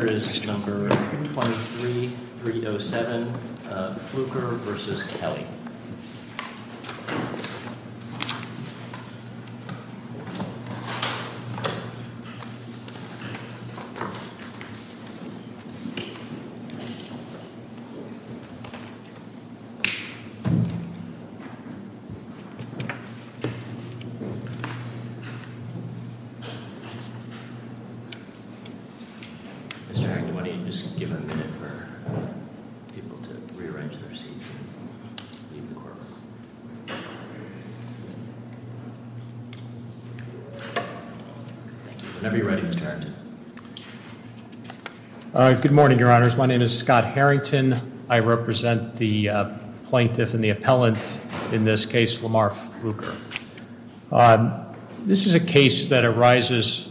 Here is number 23-307, Fluker v. Kelly. Mr. Harrington, why don't you just give a minute for people to rearrange their seats and leave the courtroom. Whenever you're ready, Mr. Harrington. Good morning, Your Honors. My name is Scott Harrington. I represent the plaintiff and the appellant in this case, Lamar Fluker. This is a case that arises,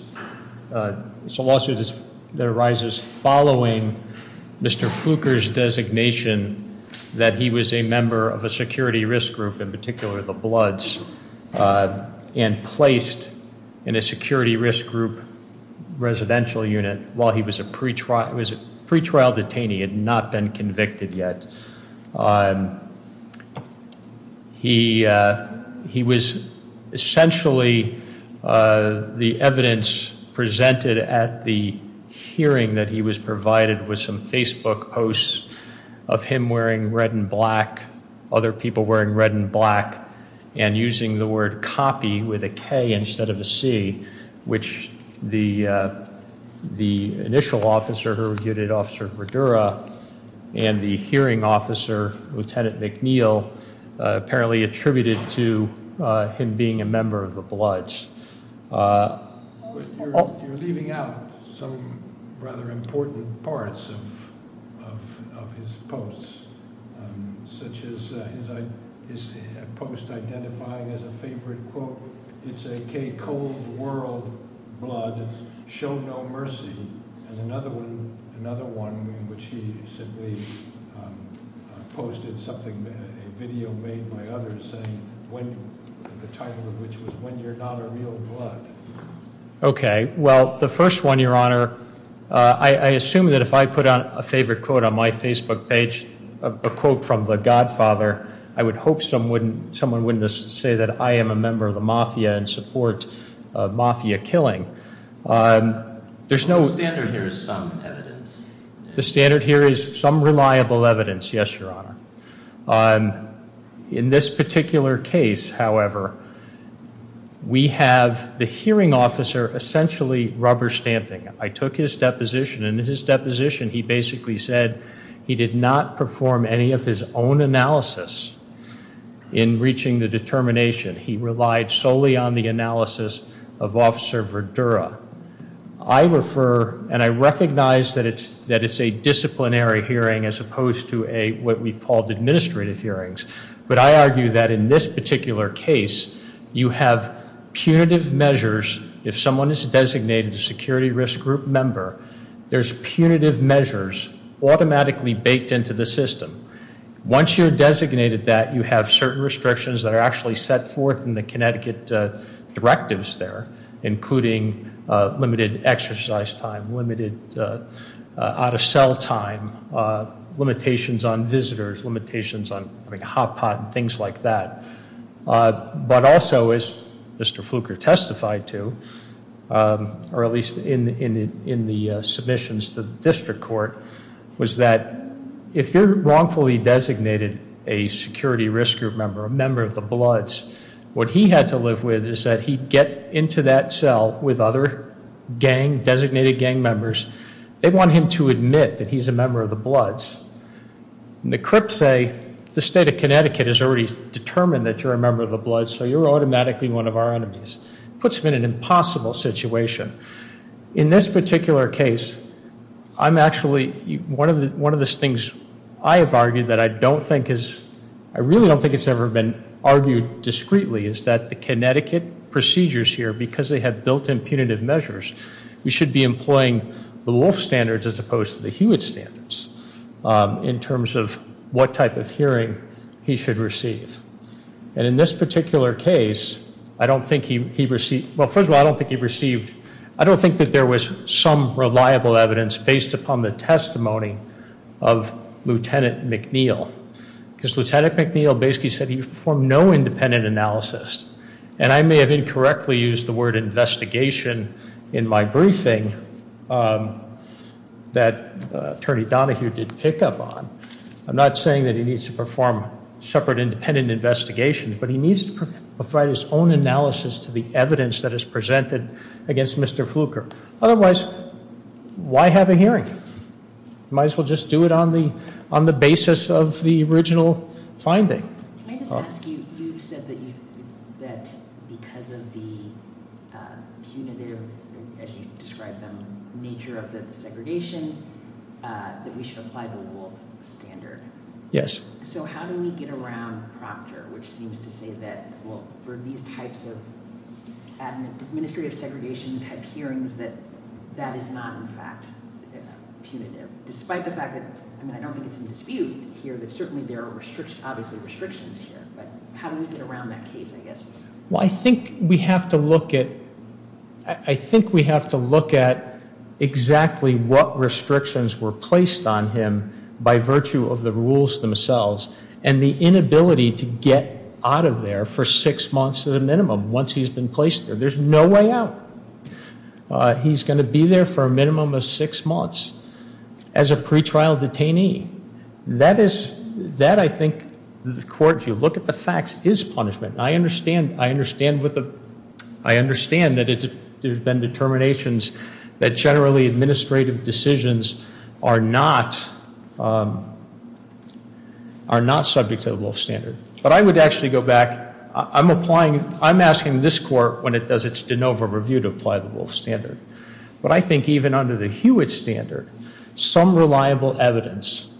it's a lawsuit that arises following Mr. Fluker's designation that he was a member of a security risk group, in particular the Bloods, and placed in a security risk group residential unit while he was a pretrial detainee and had not been convicted yet. He was essentially, the evidence presented at the hearing that he was provided was some Facebook posts of him wearing red and black, other people wearing red and black, and using the word copy with a K instead of a C, which the initial officer, who was unit officer Verdura, and the hearing officer, Lieutenant McNeil, apparently attributed to him being a member of the Bloods. You're leaving out some rather important parts of his posts, such as his post identifying as a favorite quote, it's a K Cold World Blood, show no mercy, and another one in which he simply posted something, a video made by others, saying the title of which was When You're Not a Real Blood. Okay, well, the first one, Your Honor, I assume that if I put a favorite quote on my Facebook page, a quote from the Godfather, I would hope someone wouldn't say that I am a member of the Mafia and support Mafia killing. The standard here is some evidence. The standard here is some reliable evidence, yes, Your Honor. In this particular case, however, we have the hearing officer essentially rubber stamping. I took his deposition, and in his deposition, he basically said he did not perform any of his own analysis in reaching the determination. He relied solely on the analysis of Officer Verdura. I refer, and I recognize that it's a disciplinary hearing as opposed to what we call administrative hearings, but I argue that in this particular case, you have punitive measures. If someone is designated a security risk group member, there's punitive measures automatically baked into the system. Once you're designated that, you have certain restrictions that are actually set forth in the Connecticut directives there, including limited exercise time, limited out-of-cell time, limitations on visitors, limitations on having a hot pot and things like that. But also, as Mr. Fluker testified to, or at least in the submissions to the district court, was that if you're wrongfully designated a security risk group member, a member of the Bloods, what he had to live with is that he'd get into that cell with other gang, designated gang members. They want him to admit that he's a member of the Bloods. And the crips say, the state of Connecticut has already determined that you're a member of the Bloods, so you're automatically one of our enemies. Puts him in an impossible situation. In this particular case, I'm actually, one of the things I have argued that I don't think is, I really don't think it's ever been argued discreetly, is that the Connecticut procedures here, because they have built-in punitive measures, we should be employing the Wolf standards as opposed to the Hewitt standards in terms of what type of hearing he should receive. And in this particular case, I don't think he received, well, first of all, I don't think he received, I don't think that there was some reliable evidence based upon the testimony of Lieutenant McNeil. Because Lieutenant McNeil basically said he performed no independent analysis. And I may have incorrectly used the word investigation in my briefing that Attorney Donahue did pick up on. I'm not saying that he needs to perform separate independent investigations, but he needs to provide his own analysis to the evidence that is presented against Mr. Fluker. Otherwise, why have a hearing? Might as well just do it on the basis of the original finding. Can I just ask you, you said that because of the punitive, as you described them, nature of the segregation, that we should apply the Wolf standard. Yes. So how do we get around Proctor, which seems to say that, well, for these types of administrative segregation-type hearings, that that is not, in fact, punitive? Despite the fact that, I mean, I don't think it's in dispute here, but certainly there are obviously restrictions here. But how do we get around that case, I guess? Well, I think we have to look at, I think we have to look at exactly what restrictions were placed on him by virtue of the rules themselves and the inability to get out of there for six months to the minimum once he's been placed there. There's no way out. He's going to be there for a minimum of six months as a pretrial detainee. That is, that I think the court, if you look at the facts, is punishment. I understand that there have been determinations that generally administrative decisions are not subject to the Wolf standard. But I would actually go back. I'm applying, I'm asking this court, when it does its de novo review, to apply the Wolf standard. But I think even under the Hewitt standard, some reliable evidence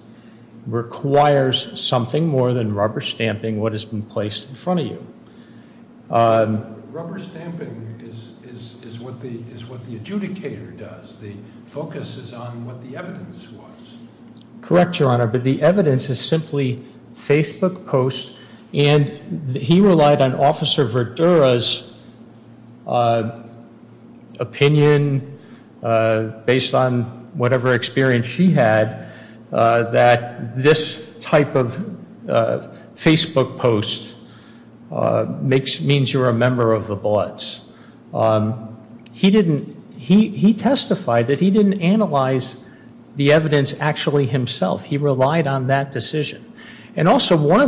requires something more than rubber stamping what has been placed in front of you. Rubber stamping is what the adjudicator does. The focus is on what the evidence was. Correct, Your Honor, but the evidence is simply Facebook posts, and he relied on Officer Verdura's opinion, based on whatever experience she had, that this type of Facebook post means you're a member of the Bloods. He didn't, he testified that he didn't analyze the evidence actually himself. He relied on that decision. And also, one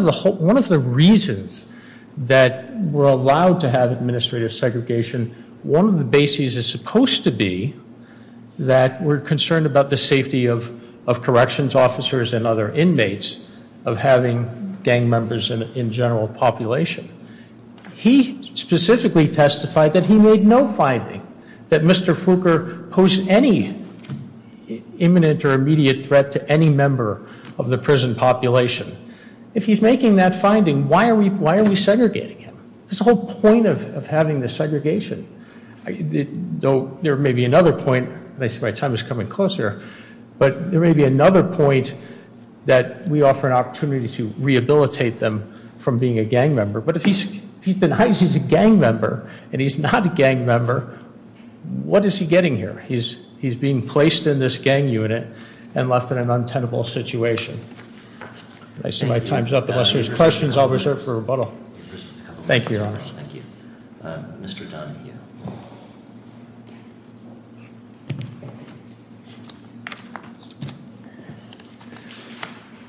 of the reasons that we're allowed to have administrative segregation, one of the bases is supposed to be that we're concerned about the safety of corrections officers and other inmates of having gang members in general population. He specifically testified that he made no finding that Mr. Fooker posed any imminent or immediate threat to any member of the prison population. If he's making that finding, why are we segregating him? There's a whole point of having the segregation. Though there may be another point, and I see my time is coming closer, but there may be another point that we offer an opportunity to rehabilitate them from being a gang member. But if he denies he's a gang member, and he's not a gang member, what is he getting here? He's being placed in this gang unit and left in an untenable situation. I see my time's up. Unless there's questions, I'll reserve for rebuttal. Thank you, Your Honor. Thank you. Mr. Donahue.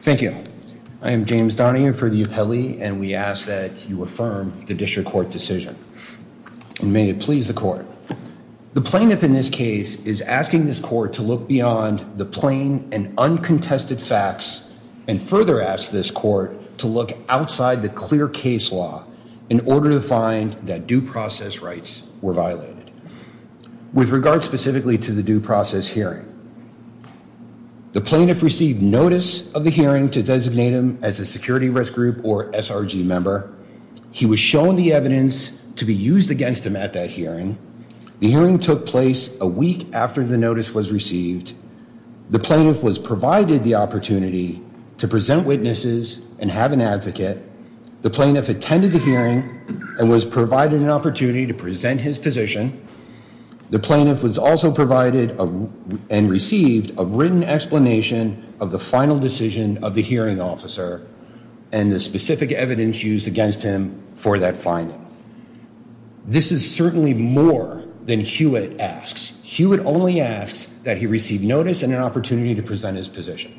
Thank you. I am James Donahue for the appellee, and we ask that you affirm the district court decision. May it please the court. The plaintiff in this case is asking this court to look beyond the plain and uncontested facts and further ask this court to look outside the clear case law in order to find that due process rights were violated. With regard specifically to the due process hearing, the plaintiff received notice of the hearing to designate him as a security risk group or SRG member. He was shown the evidence to be used against him at that hearing. The hearing took place a week after the notice was received. The plaintiff was provided the opportunity to present witnesses and have an advocate. The plaintiff attended the hearing and was provided an opportunity to present his position. The plaintiff was also provided and received a written explanation of the final decision of the hearing officer, and the specific evidence used against him for that finding. This is certainly more than Hewitt asks. Hewitt only asks that he receive notice and an opportunity to present his position.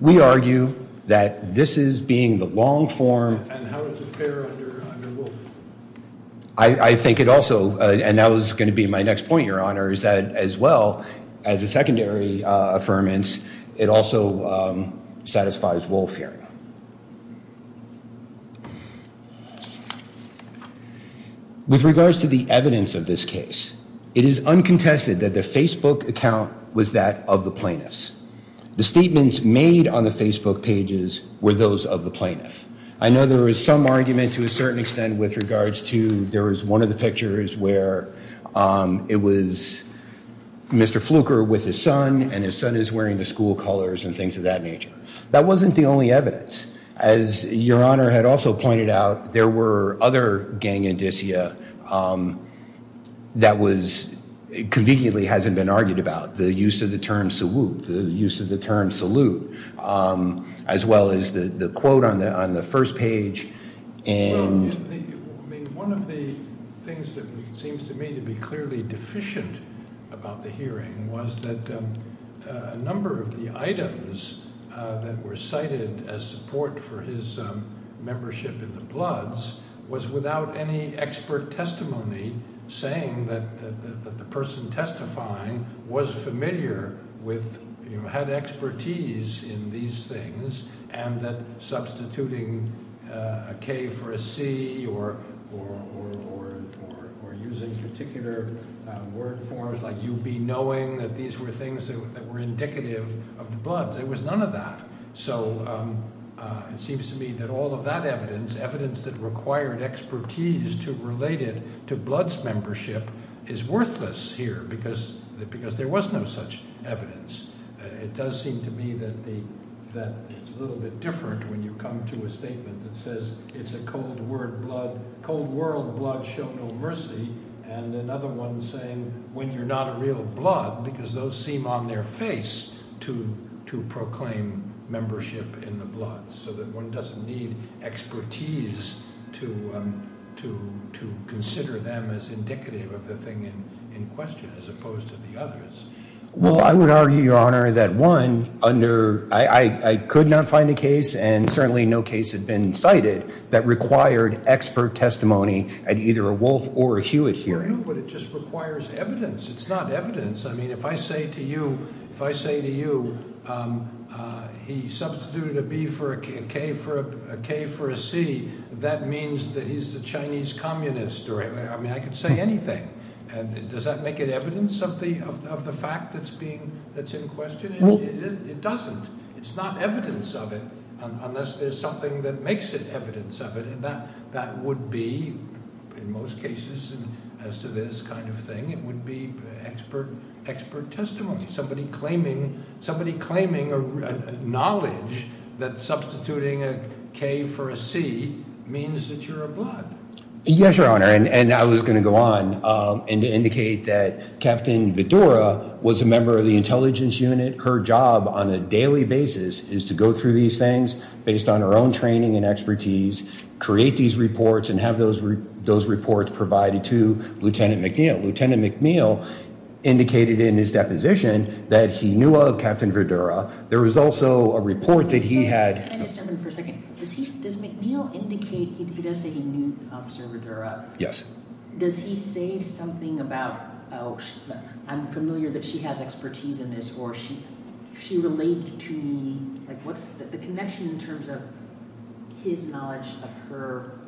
We argue that this is being the long form. I think it also, and that was going to be my next point, Your Honor, is that as well, as a secondary affirmance, it also satisfies Wolf hearing. With regards to the evidence of this case, it is uncontested that the Facebook account was that of the plaintiffs. The statements made on the Facebook pages were those of the plaintiff. I know there was some argument to a certain extent with regards to, there was one of the pictures where it was Mr. Fluker with his son, and his son is wearing the school colors and things of that nature. That wasn't the only evidence. As Your Honor had also pointed out, there were other gang indicia that was, conveniently hasn't been argued about. The use of the term salute, as well as the quote on the first page. One of the things that seems to me to be clearly deficient about the hearing was that a number of the items that were cited as support for his membership in the Bloods was without any expert testimony saying that the person testifying was familiar with, had expertise in these things, and that substituting a K for a C or using particular word forms like UB, knowing that these were things that were indicative of the Bloods. There was none of that. So it seems to me that all of that evidence, evidence that required expertise to relate it to Bloods membership is worthless here, because there was no such evidence. It does seem to me that it's a little bit different when you come to a statement that says it's a cold world blood, show no mercy, and another one saying when you're not a real blood, because those seem on their face to proclaim membership in the Bloods, so that one doesn't need expertise to consider them as indicative of the thing in question, as opposed to the others. Well, I would argue, Your Honor, that one, under, I could not find a case, and certainly no case had been cited, that required expert testimony at either a Wolf or a Hewitt hearing. Well, no, but it just requires evidence. It's not evidence. I mean, if I say to you, if I say to you he substituted a B for a K for a C, that means that he's a Chinese communist. I mean, I could say anything. Does that make it evidence of the fact that's being, that's in question? It doesn't. It's not evidence of it unless there's something that makes it evidence of it, and that would be, in most cases as to this kind of thing, it would be expert testimony, somebody claiming knowledge that substituting a K for a C means that you're a blood. Yes, Your Honor, and I was going to go on and indicate that Captain Vidura was a member of the Intelligence Unit. Her job on a daily basis is to go through these things based on her own training and expertise, create these reports, and have those reports provided to Lieutenant McNeil. Lieutenant McNeil indicated in his deposition that he knew of Captain Vidura. There was also a report that he had- Can I just jump in for a second? Does McNeil indicate he does say he knew Officer Vidura? Yes. Does he say something about, oh, I'm familiar that she has expertise in this, or she related to me, like what's the connection in terms of his knowledge of her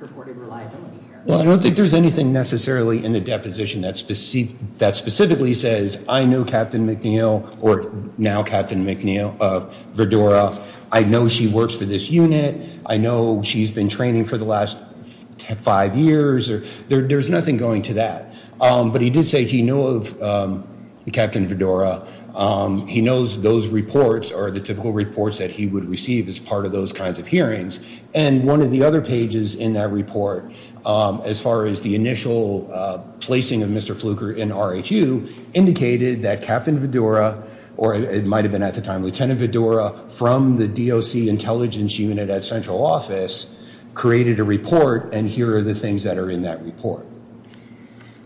purported reliability here? Well, I don't think there's anything necessarily in the deposition that specifically says, I know Captain McNeil, or now Captain Vidura, I know she works for this unit, I know she's been training for the last five years. There's nothing going to that, but he did say he knew of Captain Vidura. He knows those reports are the typical reports that he would receive as part of those kinds of hearings, and one of the other pages in that report, as far as the initial placing of Mr. Fluker in RHU, indicated that Captain Vidura, or it might have been at the time Lieutenant Vidura, from the DOC Intelligence Unit at Central Office, created a report, and here are the things that are in that report.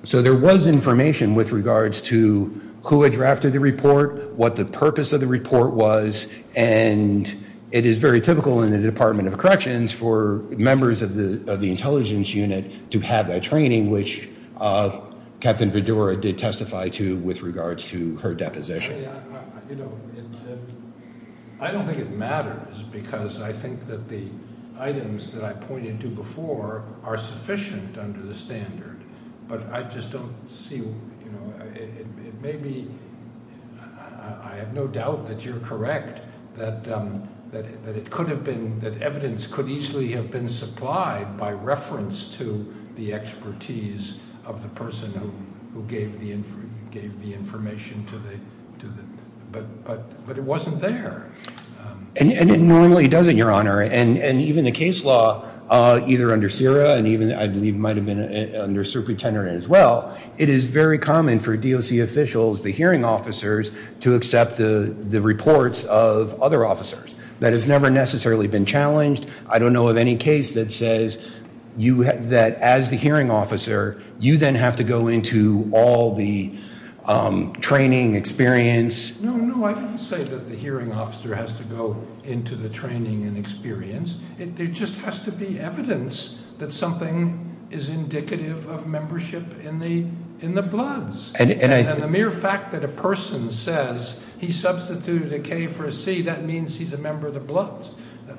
So there was information with regards to who had drafted the report, what the purpose of the report was, and it is very typical in the Department of Corrections for members of the Intelligence Unit to have that training, which Captain Vidura did testify to with regards to her deposition. I don't think it matters because I think that the items that I pointed to before are sufficient under the standard, but I just don't see, you know, it may be, I have no doubt that you're correct that it could have been, that evidence could easily have been supplied by reference to the expertise of the person who gave the information to the, but it wasn't there. And it normally doesn't, Your Honor, and even the case law, either under CIRA, and even I believe it might have been under Superintendent as well, it is very common for DOC officials, the hearing officers, to accept the reports of other officers. That has never necessarily been challenged. I don't know of any case that says that as the hearing officer, you then have to go into all the training, experience. No, no, I didn't say that the hearing officer has to go into the training and experience. It just has to be evidence that something is indicative of membership in the bloods. And the mere fact that a person says he substituted a K for a C, that means he's a member of the bloods.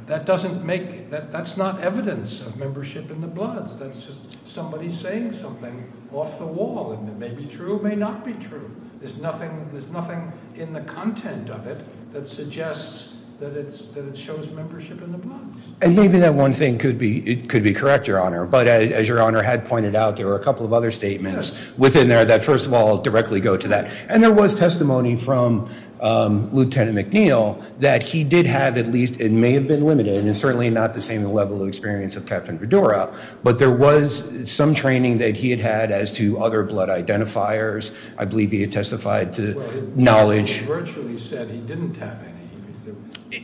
That doesn't make, that's not evidence of membership in the bloods. That's just somebody saying something off the wall, and it may be true, may not be true. There's nothing in the content of it that suggests that it shows membership in the bloods. And maybe that one thing could be correct, Your Honor, but as Your Honor had pointed out, there were a couple of other statements within there that first of all directly go to that. And there was testimony from Lieutenant McNeil that he did have at least, it may have been limited and certainly not the same level of experience of Captain Fedora, but there was some training that he had had as to other blood identifiers. I believe he had testified to knowledge- Well, it virtually said he didn't have any.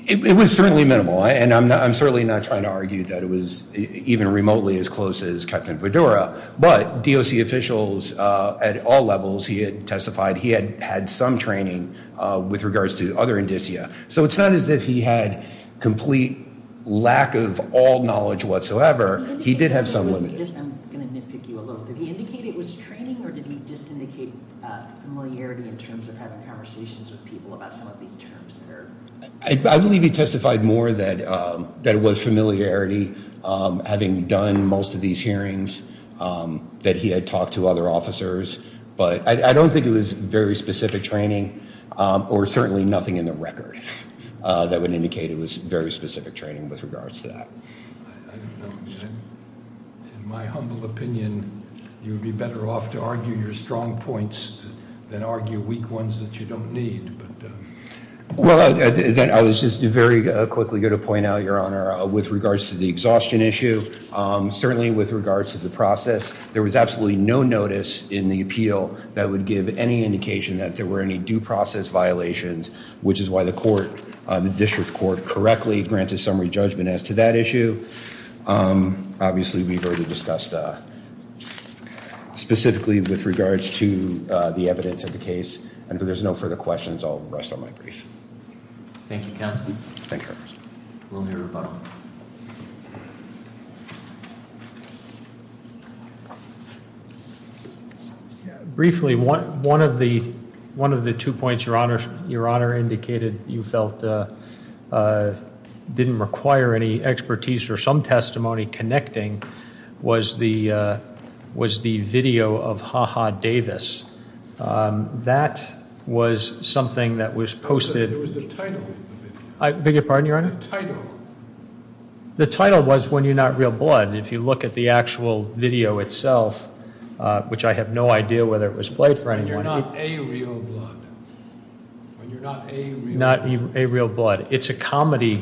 It was certainly minimal, and I'm certainly not trying to argue that it was even remotely as close as Captain Fedora. But DOC officials at all levels, he had testified he had had some training with regards to other indicia. So it's not as if he had complete lack of all knowledge whatsoever. He did have some limited- I'm going to nitpick you a little. Did he indicate it was training, or did he just indicate familiarity in terms of having conversations with people about some of these terms? I believe he testified more that it was familiarity, having done most of these hearings, that he had talked to other officers, but I don't think it was very specific training, or certainly nothing in the record that would indicate it was very specific training with regards to that. I don't know. In my humble opinion, you would be better off to argue your strong points than argue weak ones that you don't need. Well, I was just very quickly going to point out, Your Honor, with regards to the exhaustion issue, certainly with regards to the process, there was absolutely no notice in the appeal that would give any indication that there were any due process violations, which is why the court, the district court, correctly granted summary judgment as to that issue. Obviously, we've already discussed specifically with regards to the evidence of the case, and if there's no further questions, I'll rest on my brief. Thank you, Counsel. Thank you, Your Honor. We'll move on. Briefly, one of the two points Your Honor indicated you felt didn't require any expertise or some testimony connecting was the video of HaHa Davis. That was something that was posted. It was the title of the video. I beg your pardon, Your Honor? The title. The title was When You're Not Real Blood. If you look at the actual video itself, which I have no idea whether it was played for anyone. When You're Not A Real Blood. When You're Not A Real Blood. Not A Real Blood. It's a comedy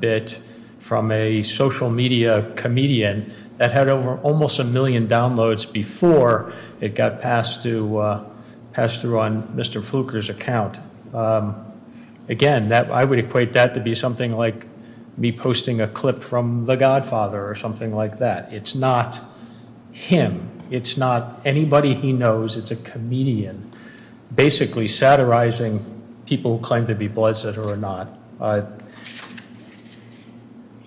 bit from a social media comedian that had over almost a million downloads before it got passed through on Mr. Fluker's account. Again, I would equate that to be something like me posting a clip from The Godfather or something like that. It's not him. It's not anybody he knows. It's a comedian basically satirizing people who claim to be blood-sitter or not.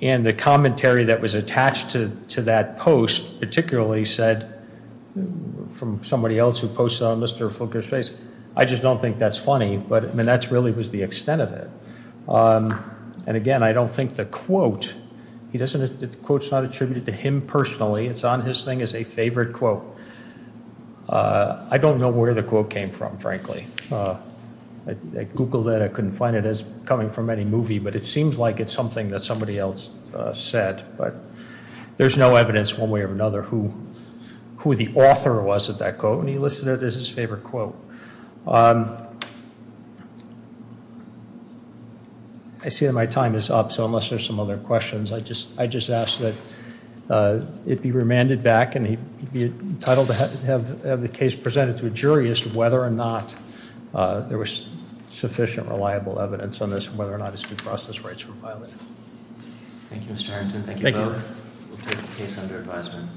And the commentary that was attached to that post particularly said from somebody else who posted on Mr. Fluker's face, I just don't think that's funny. But that really was the extent of it. And again, I don't think the quote, the quote's not attributed to him personally. It's on his thing as a favorite quote. I don't know where the quote came from, frankly. I Googled it. I couldn't find it. It's coming from any movie. But it seems like it's something that somebody else said. But there's no evidence one way or another who the author was of that quote. When you listen to it, it's his favorite quote. I see that my time is up, so unless there's some other questions, I'd just ask that it be remanded back and he'd be entitled to have the case presented to a jury as to whether or not there was sufficient reliable evidence on this and whether or not his due process rights were violated. Thank you, Mr. Harrington. Thank you both. We'll take the case under advisement.